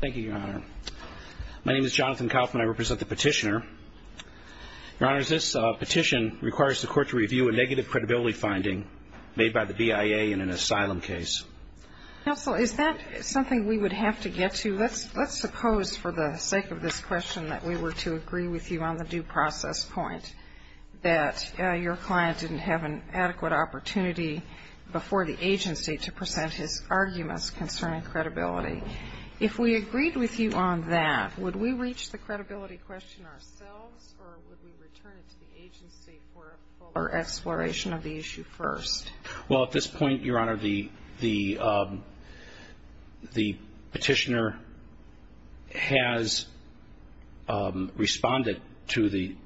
Thank you, Your Honor. My name is Jonathan Kaufman. I represent the petitioner. Your Honor, this petition requires the court to review a negative credibility finding made by the BIA in an asylum case. Counsel, is that something we would have to get to? Let's suppose for the sake of this question that we were to agree with you on the due process point that your client didn't have an adequate opportunity before the agency to present his arguments concerning credibility. If we agreed with you on that, would we reach the credibility question ourselves, or would we return it to the agency for a fuller exploration of the issue first? Well, at this point, Your Honor, the petitioner has responded to the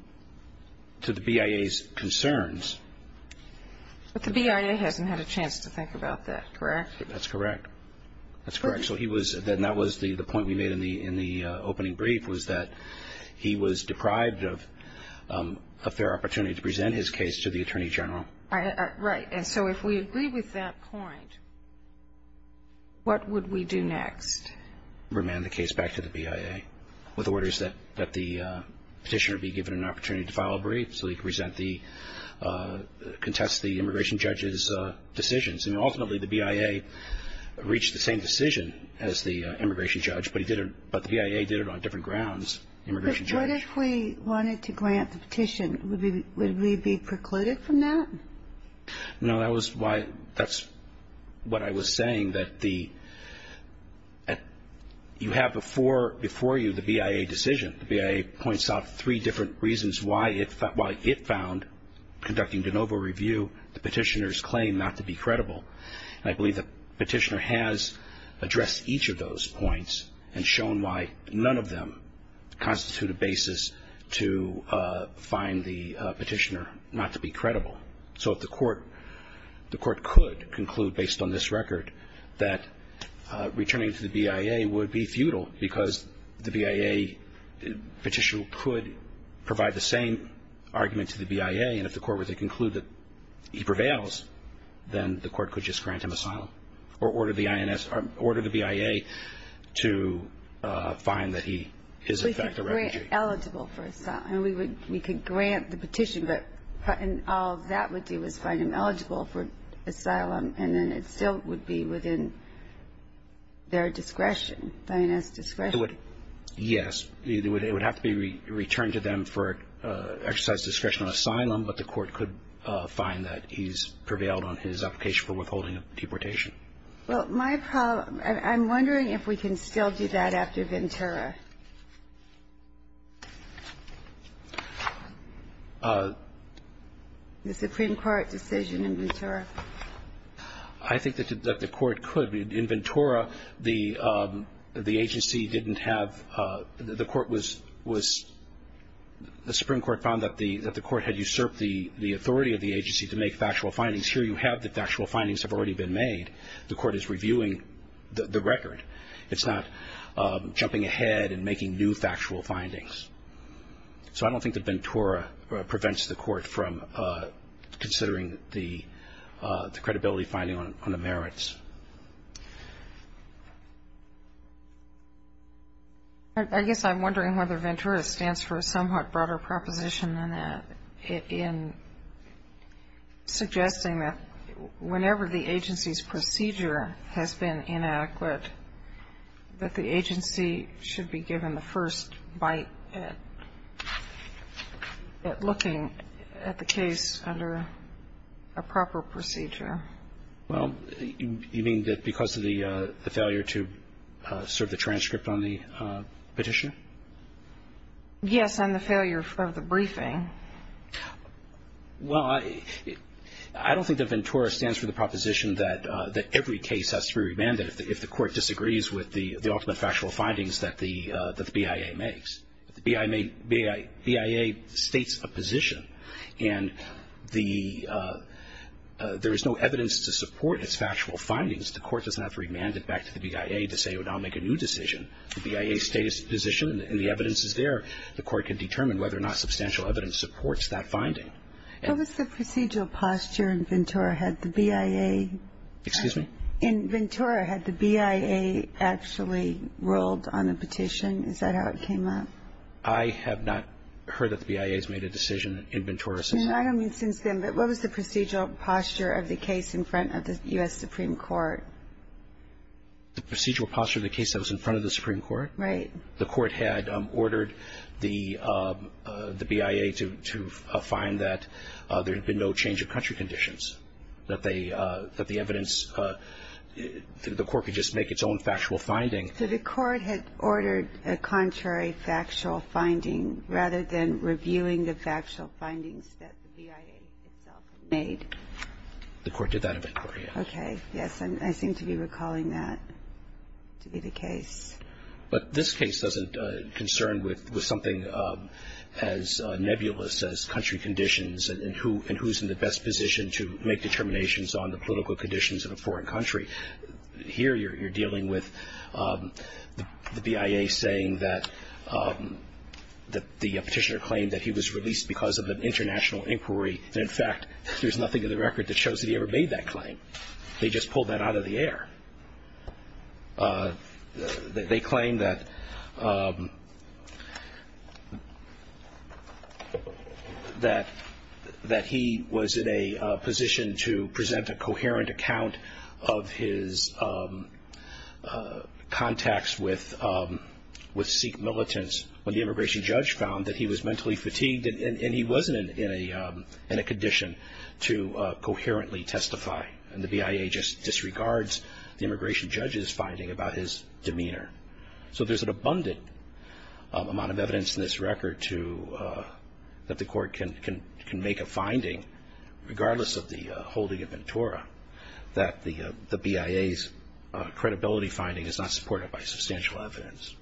BIA's concerns. But the BIA hasn't had a chance to think about that, correct? That's correct. That's correct. So that was the point we made in the opening brief was that he was deprived of their opportunity to present his case to the Attorney General. Right. And so if we agree with that point, what would we do next? Remand the case back to the BIA with orders that the petitioner be given an opportunity to file a brief so he could contest the immigration judge's decisions. And ultimately, the BIA reached the same decision as the immigration judge, but the BIA did it on different grounds. But what if we wanted to grant the petition? Would we be precluded from that? No, that's what I was saying, that you have before you the BIA decision. The BIA points out three different reasons why it found, conducting de novo review, the petitioner's claim not to be credible. I believe the petitioner has addressed each of those points and shown why none of them constitute a basis to find the petitioner not to be credible. So if the court could conclude, based on this record, that returning to the BIA would be futile because the BIA petitioner could provide the same argument to the BIA. And if the court were to conclude that he prevails, then the court could just grant him asylum or order the BIA to find that he is in fact a refugee. We could grant eligible for asylum. We could grant the petition, but all that would do is find him eligible for asylum, and then it still would be within their discretion, the INS discretion. It would, yes, it would have to be returned to them for exercise discretion on asylum, but the court could find that he's prevailed on his application for withholding a deportation. Well, my problem, I'm wondering if we can still do that after Ventura. The Supreme Court decision in Ventura. I think that the court could. In Ventura, the agency didn't have, the court was, the Supreme Court found that the court had usurped the authority of the agency to make factual findings. Here you have the factual findings have already been made. The court is reviewing the record. It's not jumping ahead and making new factual findings. So I don't think that Ventura prevents the court from considering the credibility finding on the merits. I guess I'm wondering whether Ventura stands for a somewhat broader proposition than that in suggesting that whenever the agency's procedure has been inadequate, that the agency should be given the first bite at looking at the case under a proper procedure. Well, you mean that because of the failure to serve the transcript on the petition? Yes, and the failure of the briefing. Well, I don't think that Ventura stands for the proposition that every case has to be remanded if the court disagrees with the ultimate factual findings that the BIA makes. The BIA states a position, and there is no evidence to support its factual findings. The court doesn't have to remand it back to the BIA to say, well, now make a new decision. The BIA states a position, and the evidence is there. The court can determine whether or not substantial evidence supports that finding. What was the procedural posture in Ventura had the BIA? Excuse me? In Ventura, had the BIA actually ruled on a petition? Is that how it came up? I have not heard that the BIA has made a decision in Ventura since then. I don't mean since then, but what was the procedural posture of the case in front of the U.S. Supreme Court? The procedural posture of the case that was in front of the Supreme Court? Right. The court had ordered the BIA to find that there had been no change of country conditions, that the evidence, the court could just make its own factual finding. So the court had ordered a contrary factual finding rather than reviewing the factual findings that the BIA itself made? The court did that in Ventura, yes. Okay. Yes, I seem to be recalling that to be the case. But this case doesn't concern with something as nebulous as country conditions and who's in the best position to make determinations on the political conditions in a foreign country. Here you're dealing with the BIA saying that the petitioner claimed that he was released because of an international inquiry, and, in fact, there's nothing in the record that shows that he ever made that claim. They just pulled that out of the air. They claim that he was in a position to present a coherent account of his contacts with Sikh militants when the immigration judge found that he was mentally fatigued and he wasn't in a condition to coherently testify, and the BIA just disregards the immigration judge's finding about his demeanor. So there's an abundant amount of evidence in this record that the court can make a finding, regardless of the holding of Ventura, that the BIA's credibility finding is not supported by substantial evidence.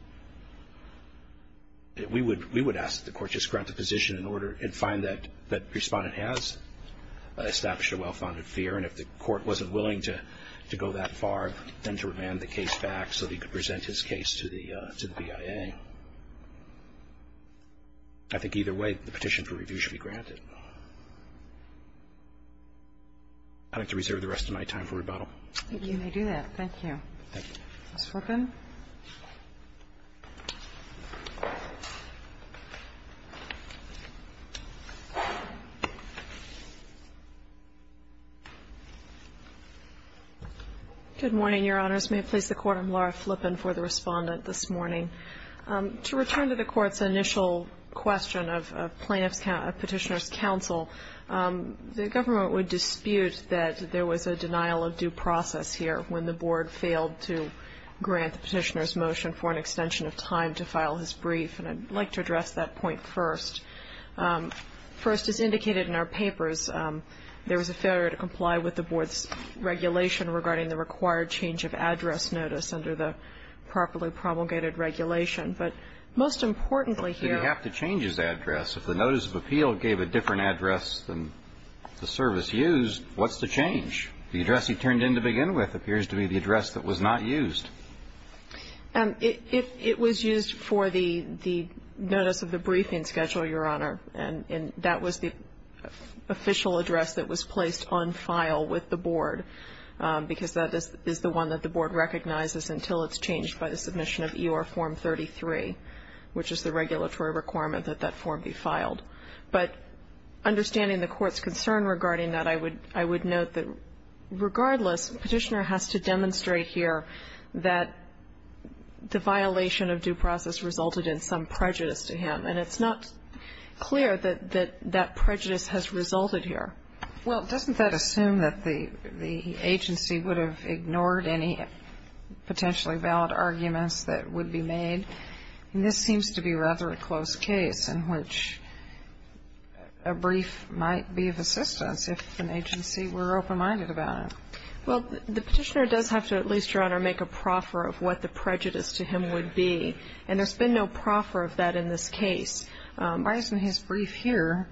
We would ask that the court just grant the position in order and find that the respondent has established a well-founded fear, and if the court wasn't willing to go that far, then to remand the case back so that he could present his case to the BIA. I think either way, the petition for review should be granted. I'd like to reserve the rest of my time for rebuttal. Thank you. You may do that. Thank you. Ms. Flippen. Good morning, Your Honors. May it please the Court, I'm Laura Flippen for the respondent this morning. To return to the Court's initial question of plaintiff's petitioner's counsel, the government would dispute that there was a denial of due process here when the board failed to grant the petitioner's motion for an extension of time to file his brief, and I'd like to address that point first. First, as indicated in our papers, there was a failure to comply with the board's regulation regarding the required change of address notice under the properly promulgated regulation. But most importantly here you have to change his address. If the notice of appeal gave a different address than the service used, what's the change? The address he turned in to begin with appears to be the address that was not used. It was used for the notice of the briefing schedule, Your Honor, and that was the official address that was placed on file with the board because that is the one that the board recognizes until it's changed by the submission of EOR Form 33, which is the regulatory requirement that that form be filed. But understanding the Court's concern regarding that, I would note that regardless the petitioner has to demonstrate here that the violation of due process resulted in some prejudice to him. And it's not clear that that prejudice has resulted here. Well, doesn't that assume that the agency would have ignored any potentially valid arguments that would be made? This seems to be rather a close case in which a brief might be of assistance if an agency were open-minded about it. Well, the petitioner does have to at least, Your Honor, make a proffer of what the prejudice to him would be. And there's been no proffer of that in this case. Why isn't his brief here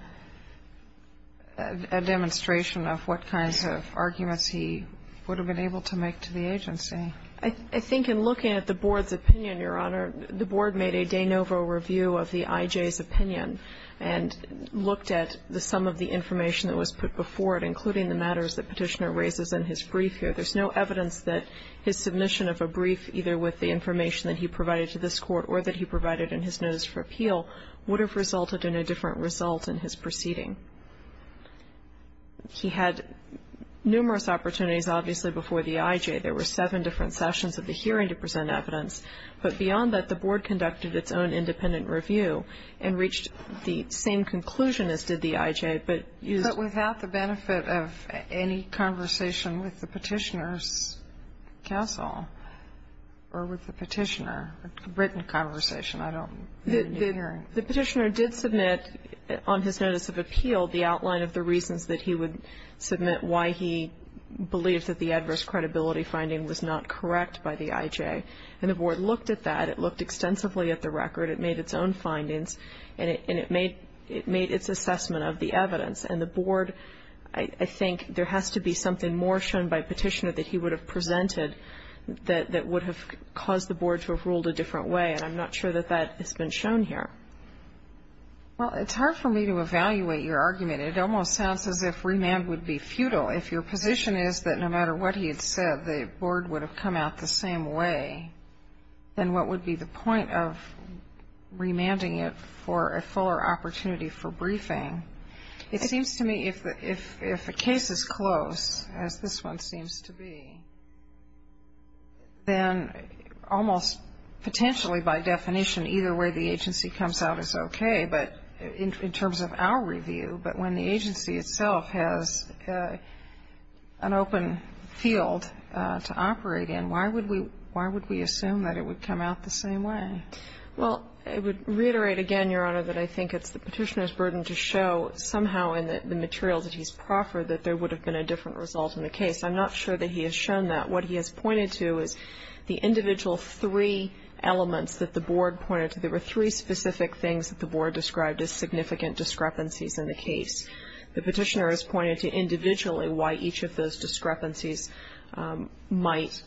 a demonstration of what kinds of arguments he would have been able to make to the agency? I think in looking at the board's opinion, Your Honor, the board made a de novo review of the IJ's opinion and looked at some of the information that was put before it, including the matters that the petitioner raises in his brief here. There's no evidence that his submission of a brief, either with the information that he provided to this court or that he provided in his notice for appeal, would have resulted in a different result in his proceeding. He had numerous opportunities, obviously, before the IJ. There were seven different sessions of the hearing to present evidence. But beyond that, the board conducted its own independent review and reached the same conclusion as did the IJ. But without the benefit of any conversation with the petitioner's counsel or with the petitioner, a written conversation, I don't know. The petitioner did submit on his notice of appeal the outline of the reasons that he would submit why he believed that the adverse credibility finding was not correct by the IJ. And the board looked at that. It looked extensively at the record. It made its own findings, and it made its assessment of the evidence. And the board, I think there has to be something more shown by petitioner that he would have presented that would have caused the board to have ruled a different way, and I'm not sure that that has been shown here. Well, it's hard for me to evaluate your argument. It almost sounds as if remand would be futile. If your position is that no matter what he had said, the board would have come out the same way, then what would be the point of remanding it for a fuller opportunity for briefing? It seems to me if a case is closed, as this one seems to be, then almost potentially by definition either way the agency comes out is okay, but in terms of our review, but when the agency itself has an open field to operate in, why would we assume that it would come out the same way? Well, I would reiterate again, Your Honor, that I think it's the petitioner's burden to show somehow in the materials that he's proffered that there would have been a different result in the case. I'm not sure that he has shown that. What he has pointed to is the individual three elements that the board pointed to. There were three specific things that the board described as significant discrepancies in the case. The petitioner has pointed to individually why each of those discrepancies might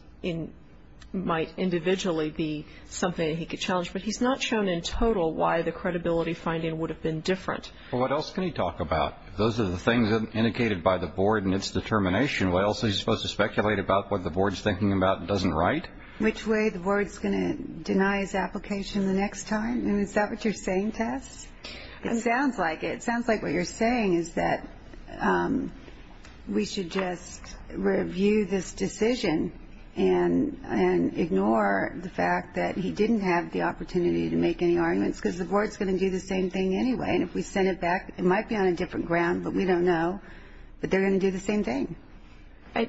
individually be something that he could challenge, but he's not shown in total why the credibility finding would have been different. Well, what else can he talk about? Those are the things indicated by the board in its determination. What else is he supposed to speculate about what the board is thinking about and doesn't write? Which way the board is going to deny his application the next time? Is that what you're saying, Tess? It sounds like it. What I'm saying is that we should just review this decision and ignore the fact that he didn't have the opportunity to make any arguments, because the board is going to do the same thing anyway. And if we send it back, it might be on a different ground, but we don't know. But they're going to do the same thing. I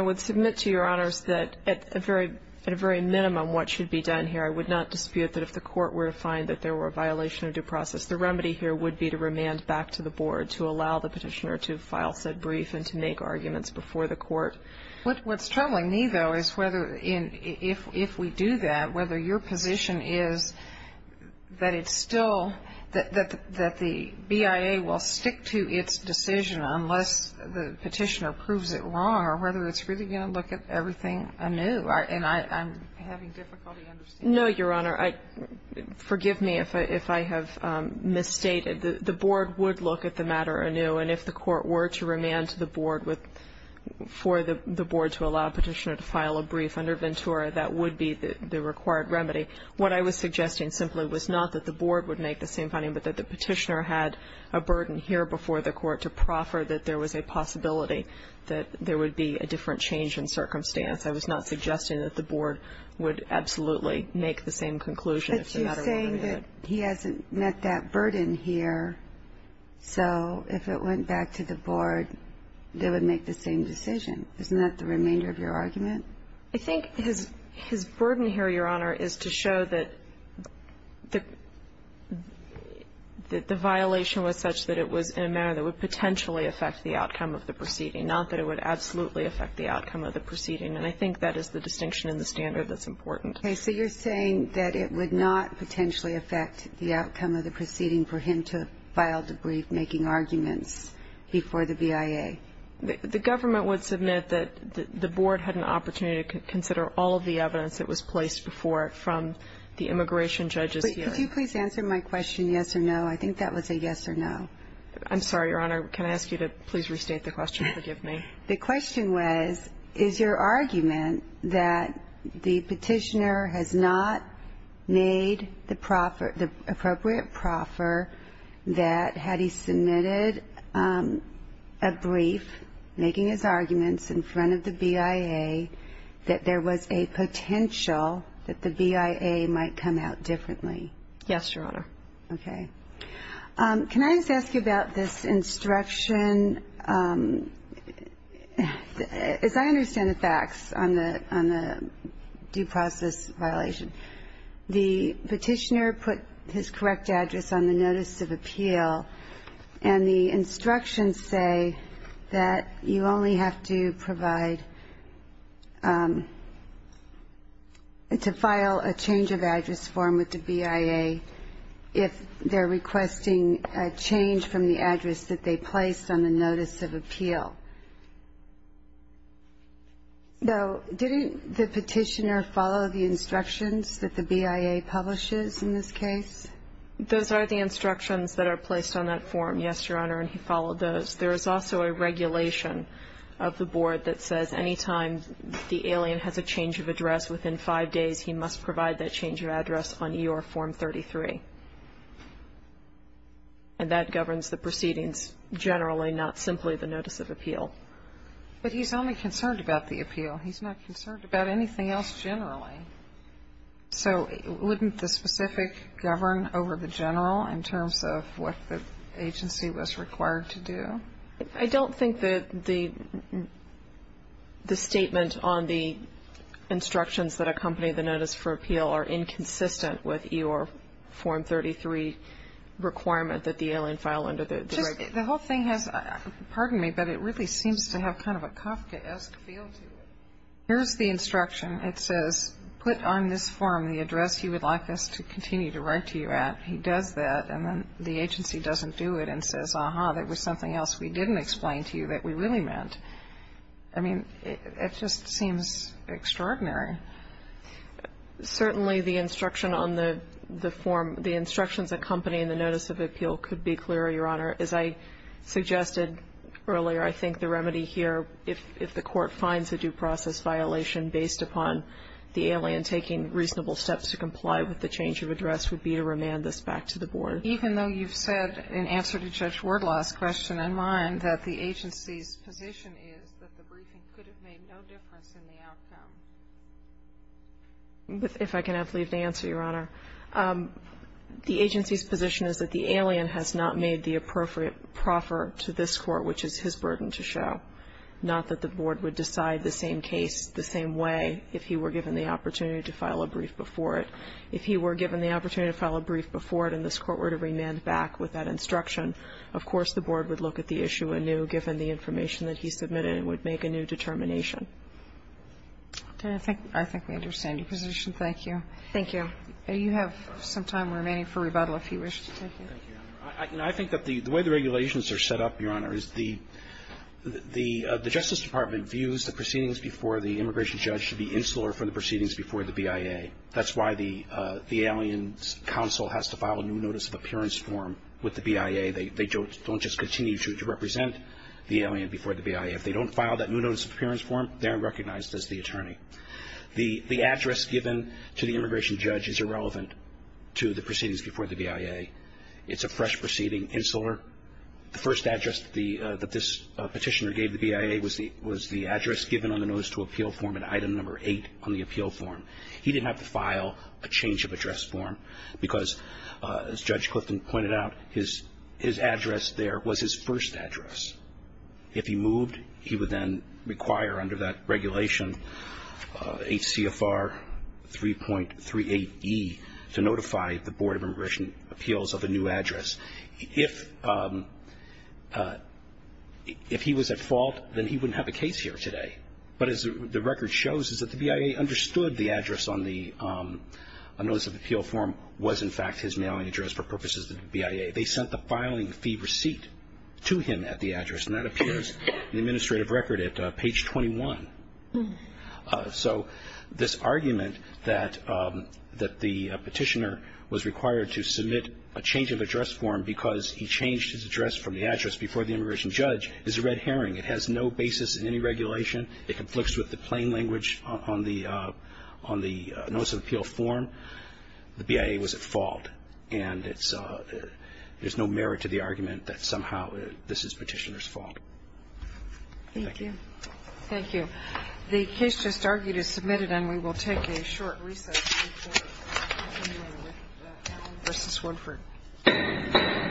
would submit to Your Honors that at a very minimum what should be done here. I would not dispute that if the court were to find that there were a violation of due process. The remedy here would be to remand back to the board to allow the Petitioner to file said brief and to make arguments before the court. What's troubling me, though, is whether if we do that, whether your position is that it's still that the BIA will stick to its decision unless the Petitioner proves it wrong or whether it's really going to look at everything anew. And I'm having difficulty understanding that. No, Your Honor. Forgive me if I have misstated. The board would look at the matter anew. And if the court were to remand to the board for the board to allow Petitioner to file a brief under Ventura, that would be the required remedy. What I was suggesting simply was not that the board would make the same finding, but that the Petitioner had a burden here before the court to proffer that there was a possibility that there would be a different change in circumstance. I was not suggesting that the board would absolutely make the same conclusion if the matter were remanded. But you're saying that he hasn't met that burden here. So if it went back to the board, they would make the same decision. Isn't that the remainder of your argument? I think his burden here, Your Honor, is to show that the violation was such that it was in a manner that would potentially affect the outcome of the proceeding, not that it would absolutely affect the outcome of the proceeding. And I think that is the distinction in the standard that's important. Okay. So you're saying that it would not potentially affect the outcome of the proceeding for him to file the brief making arguments before the BIA? The government would submit that the board had an opportunity to consider all of the evidence that was placed before it from the immigration judge's hearing. Could you please answer my question, yes or no? I think that was a yes or no. I'm sorry, Your Honor. Can I ask you to please restate the question? Forgive me. The question was, is your argument that the petitioner has not made the appropriate proffer that had he submitted a brief making his arguments in front of the BIA that there was a potential that the BIA might come out differently? Yes, Your Honor. Okay. Can I just ask you about this instruction? As I understand the facts on the due process violation, the petitioner put his correct address on the notice of appeal, and the instructions say that you only have to provide to file a change of address form with the BIA if they're requesting a change from the address that they placed on the notice of appeal. Now, didn't the petitioner follow the instructions that the BIA publishes in this case? Those are the instructions that are placed on that form, yes, Your Honor, and he followed those. There is also a regulation of the board that says anytime the alien has a change of address within five days, he must provide that change of address on EOR form 33, and that governs the proceedings generally, not simply the notice of appeal. But he's only concerned about the appeal. He's not concerned about anything else generally. So wouldn't the specific govern over the general in terms of what the agency was required to do? I don't think that the statement on the instructions that accompany the notice for appeal are inconsistent with EOR form 33 requirement that the alien file under the regulation. The whole thing has, pardon me, but it really seems to have kind of a Kafkaesque feel to it. Here's the instruction. It says put on this form the address you would like us to continue to write to you at. He does that, and then the agency doesn't do it and says, ah-ha, that was something else we didn't explain to you that we really meant. I mean, it just seems extraordinary. Certainly the instruction on the form, the instructions accompanying the notice of appeal could be clearer, Your Honor. As I suggested earlier, I think the remedy here, if the court finds a due process violation based upon the alien and taking reasonable steps to comply with the change of address, would be to remand this back to the board. Even though you've said in answer to Judge Wardlaw's question and mine that the agency's position is that the briefing could have made no difference in the outcome? If I can have leave to answer, Your Honor. The agency's position is that the alien has not made the appropriate proffer to this court, which is his burden to show, not that the board would decide the same case the same way if he were given the opportunity to file a brief before it. If he were given the opportunity to file a brief before it and this court were to remand back with that instruction, of course the board would look at the issue anew given the information that he submitted and would make a new determination. I think we understand your position. Thank you. Thank you. You have some time remaining for rebuttal if you wish to take it. Thank you, Your Honor. I think that the way the regulations are set up, Your Honor, is the Justice Department views the proceedings before the immigration judge should be insular from the proceedings before the BIA. That's why the alien's counsel has to file a new notice of appearance form with the BIA. They don't just continue to represent the alien before the BIA. If they don't file that new notice of appearance form, they're unrecognized as the attorney. The address given to the immigration judge is irrelevant to the proceedings before the BIA. It's a fresh proceeding, insular. The first address that this petitioner gave the BIA was the address given on the notice to appeal form and item number eight on the appeal form. He didn't have to file a change of address form because, as Judge Clifton pointed out, his address there was his first address. If he moved, he would then require, under that regulation, H.C.F.R. 3.38E to notify the Board of Immigration Appeals of a new address. If he was at fault, then he wouldn't have a case here today. But as the record shows is that the BIA understood the address on the notice of appeal form was, in fact, his mailing address for purposes of the BIA. They sent the filing fee receipt to him at the address, and that appears in the administrative record at page 21. So this argument that the petitioner was required to submit a change of address form because he changed his address from the address before the immigration judge is a red herring. It has no basis in any regulation. It conflicts with the plain language on the notice of appeal form. The BIA was at fault, and there's no merit to the argument that somehow this is petitioner's fault. Thank you.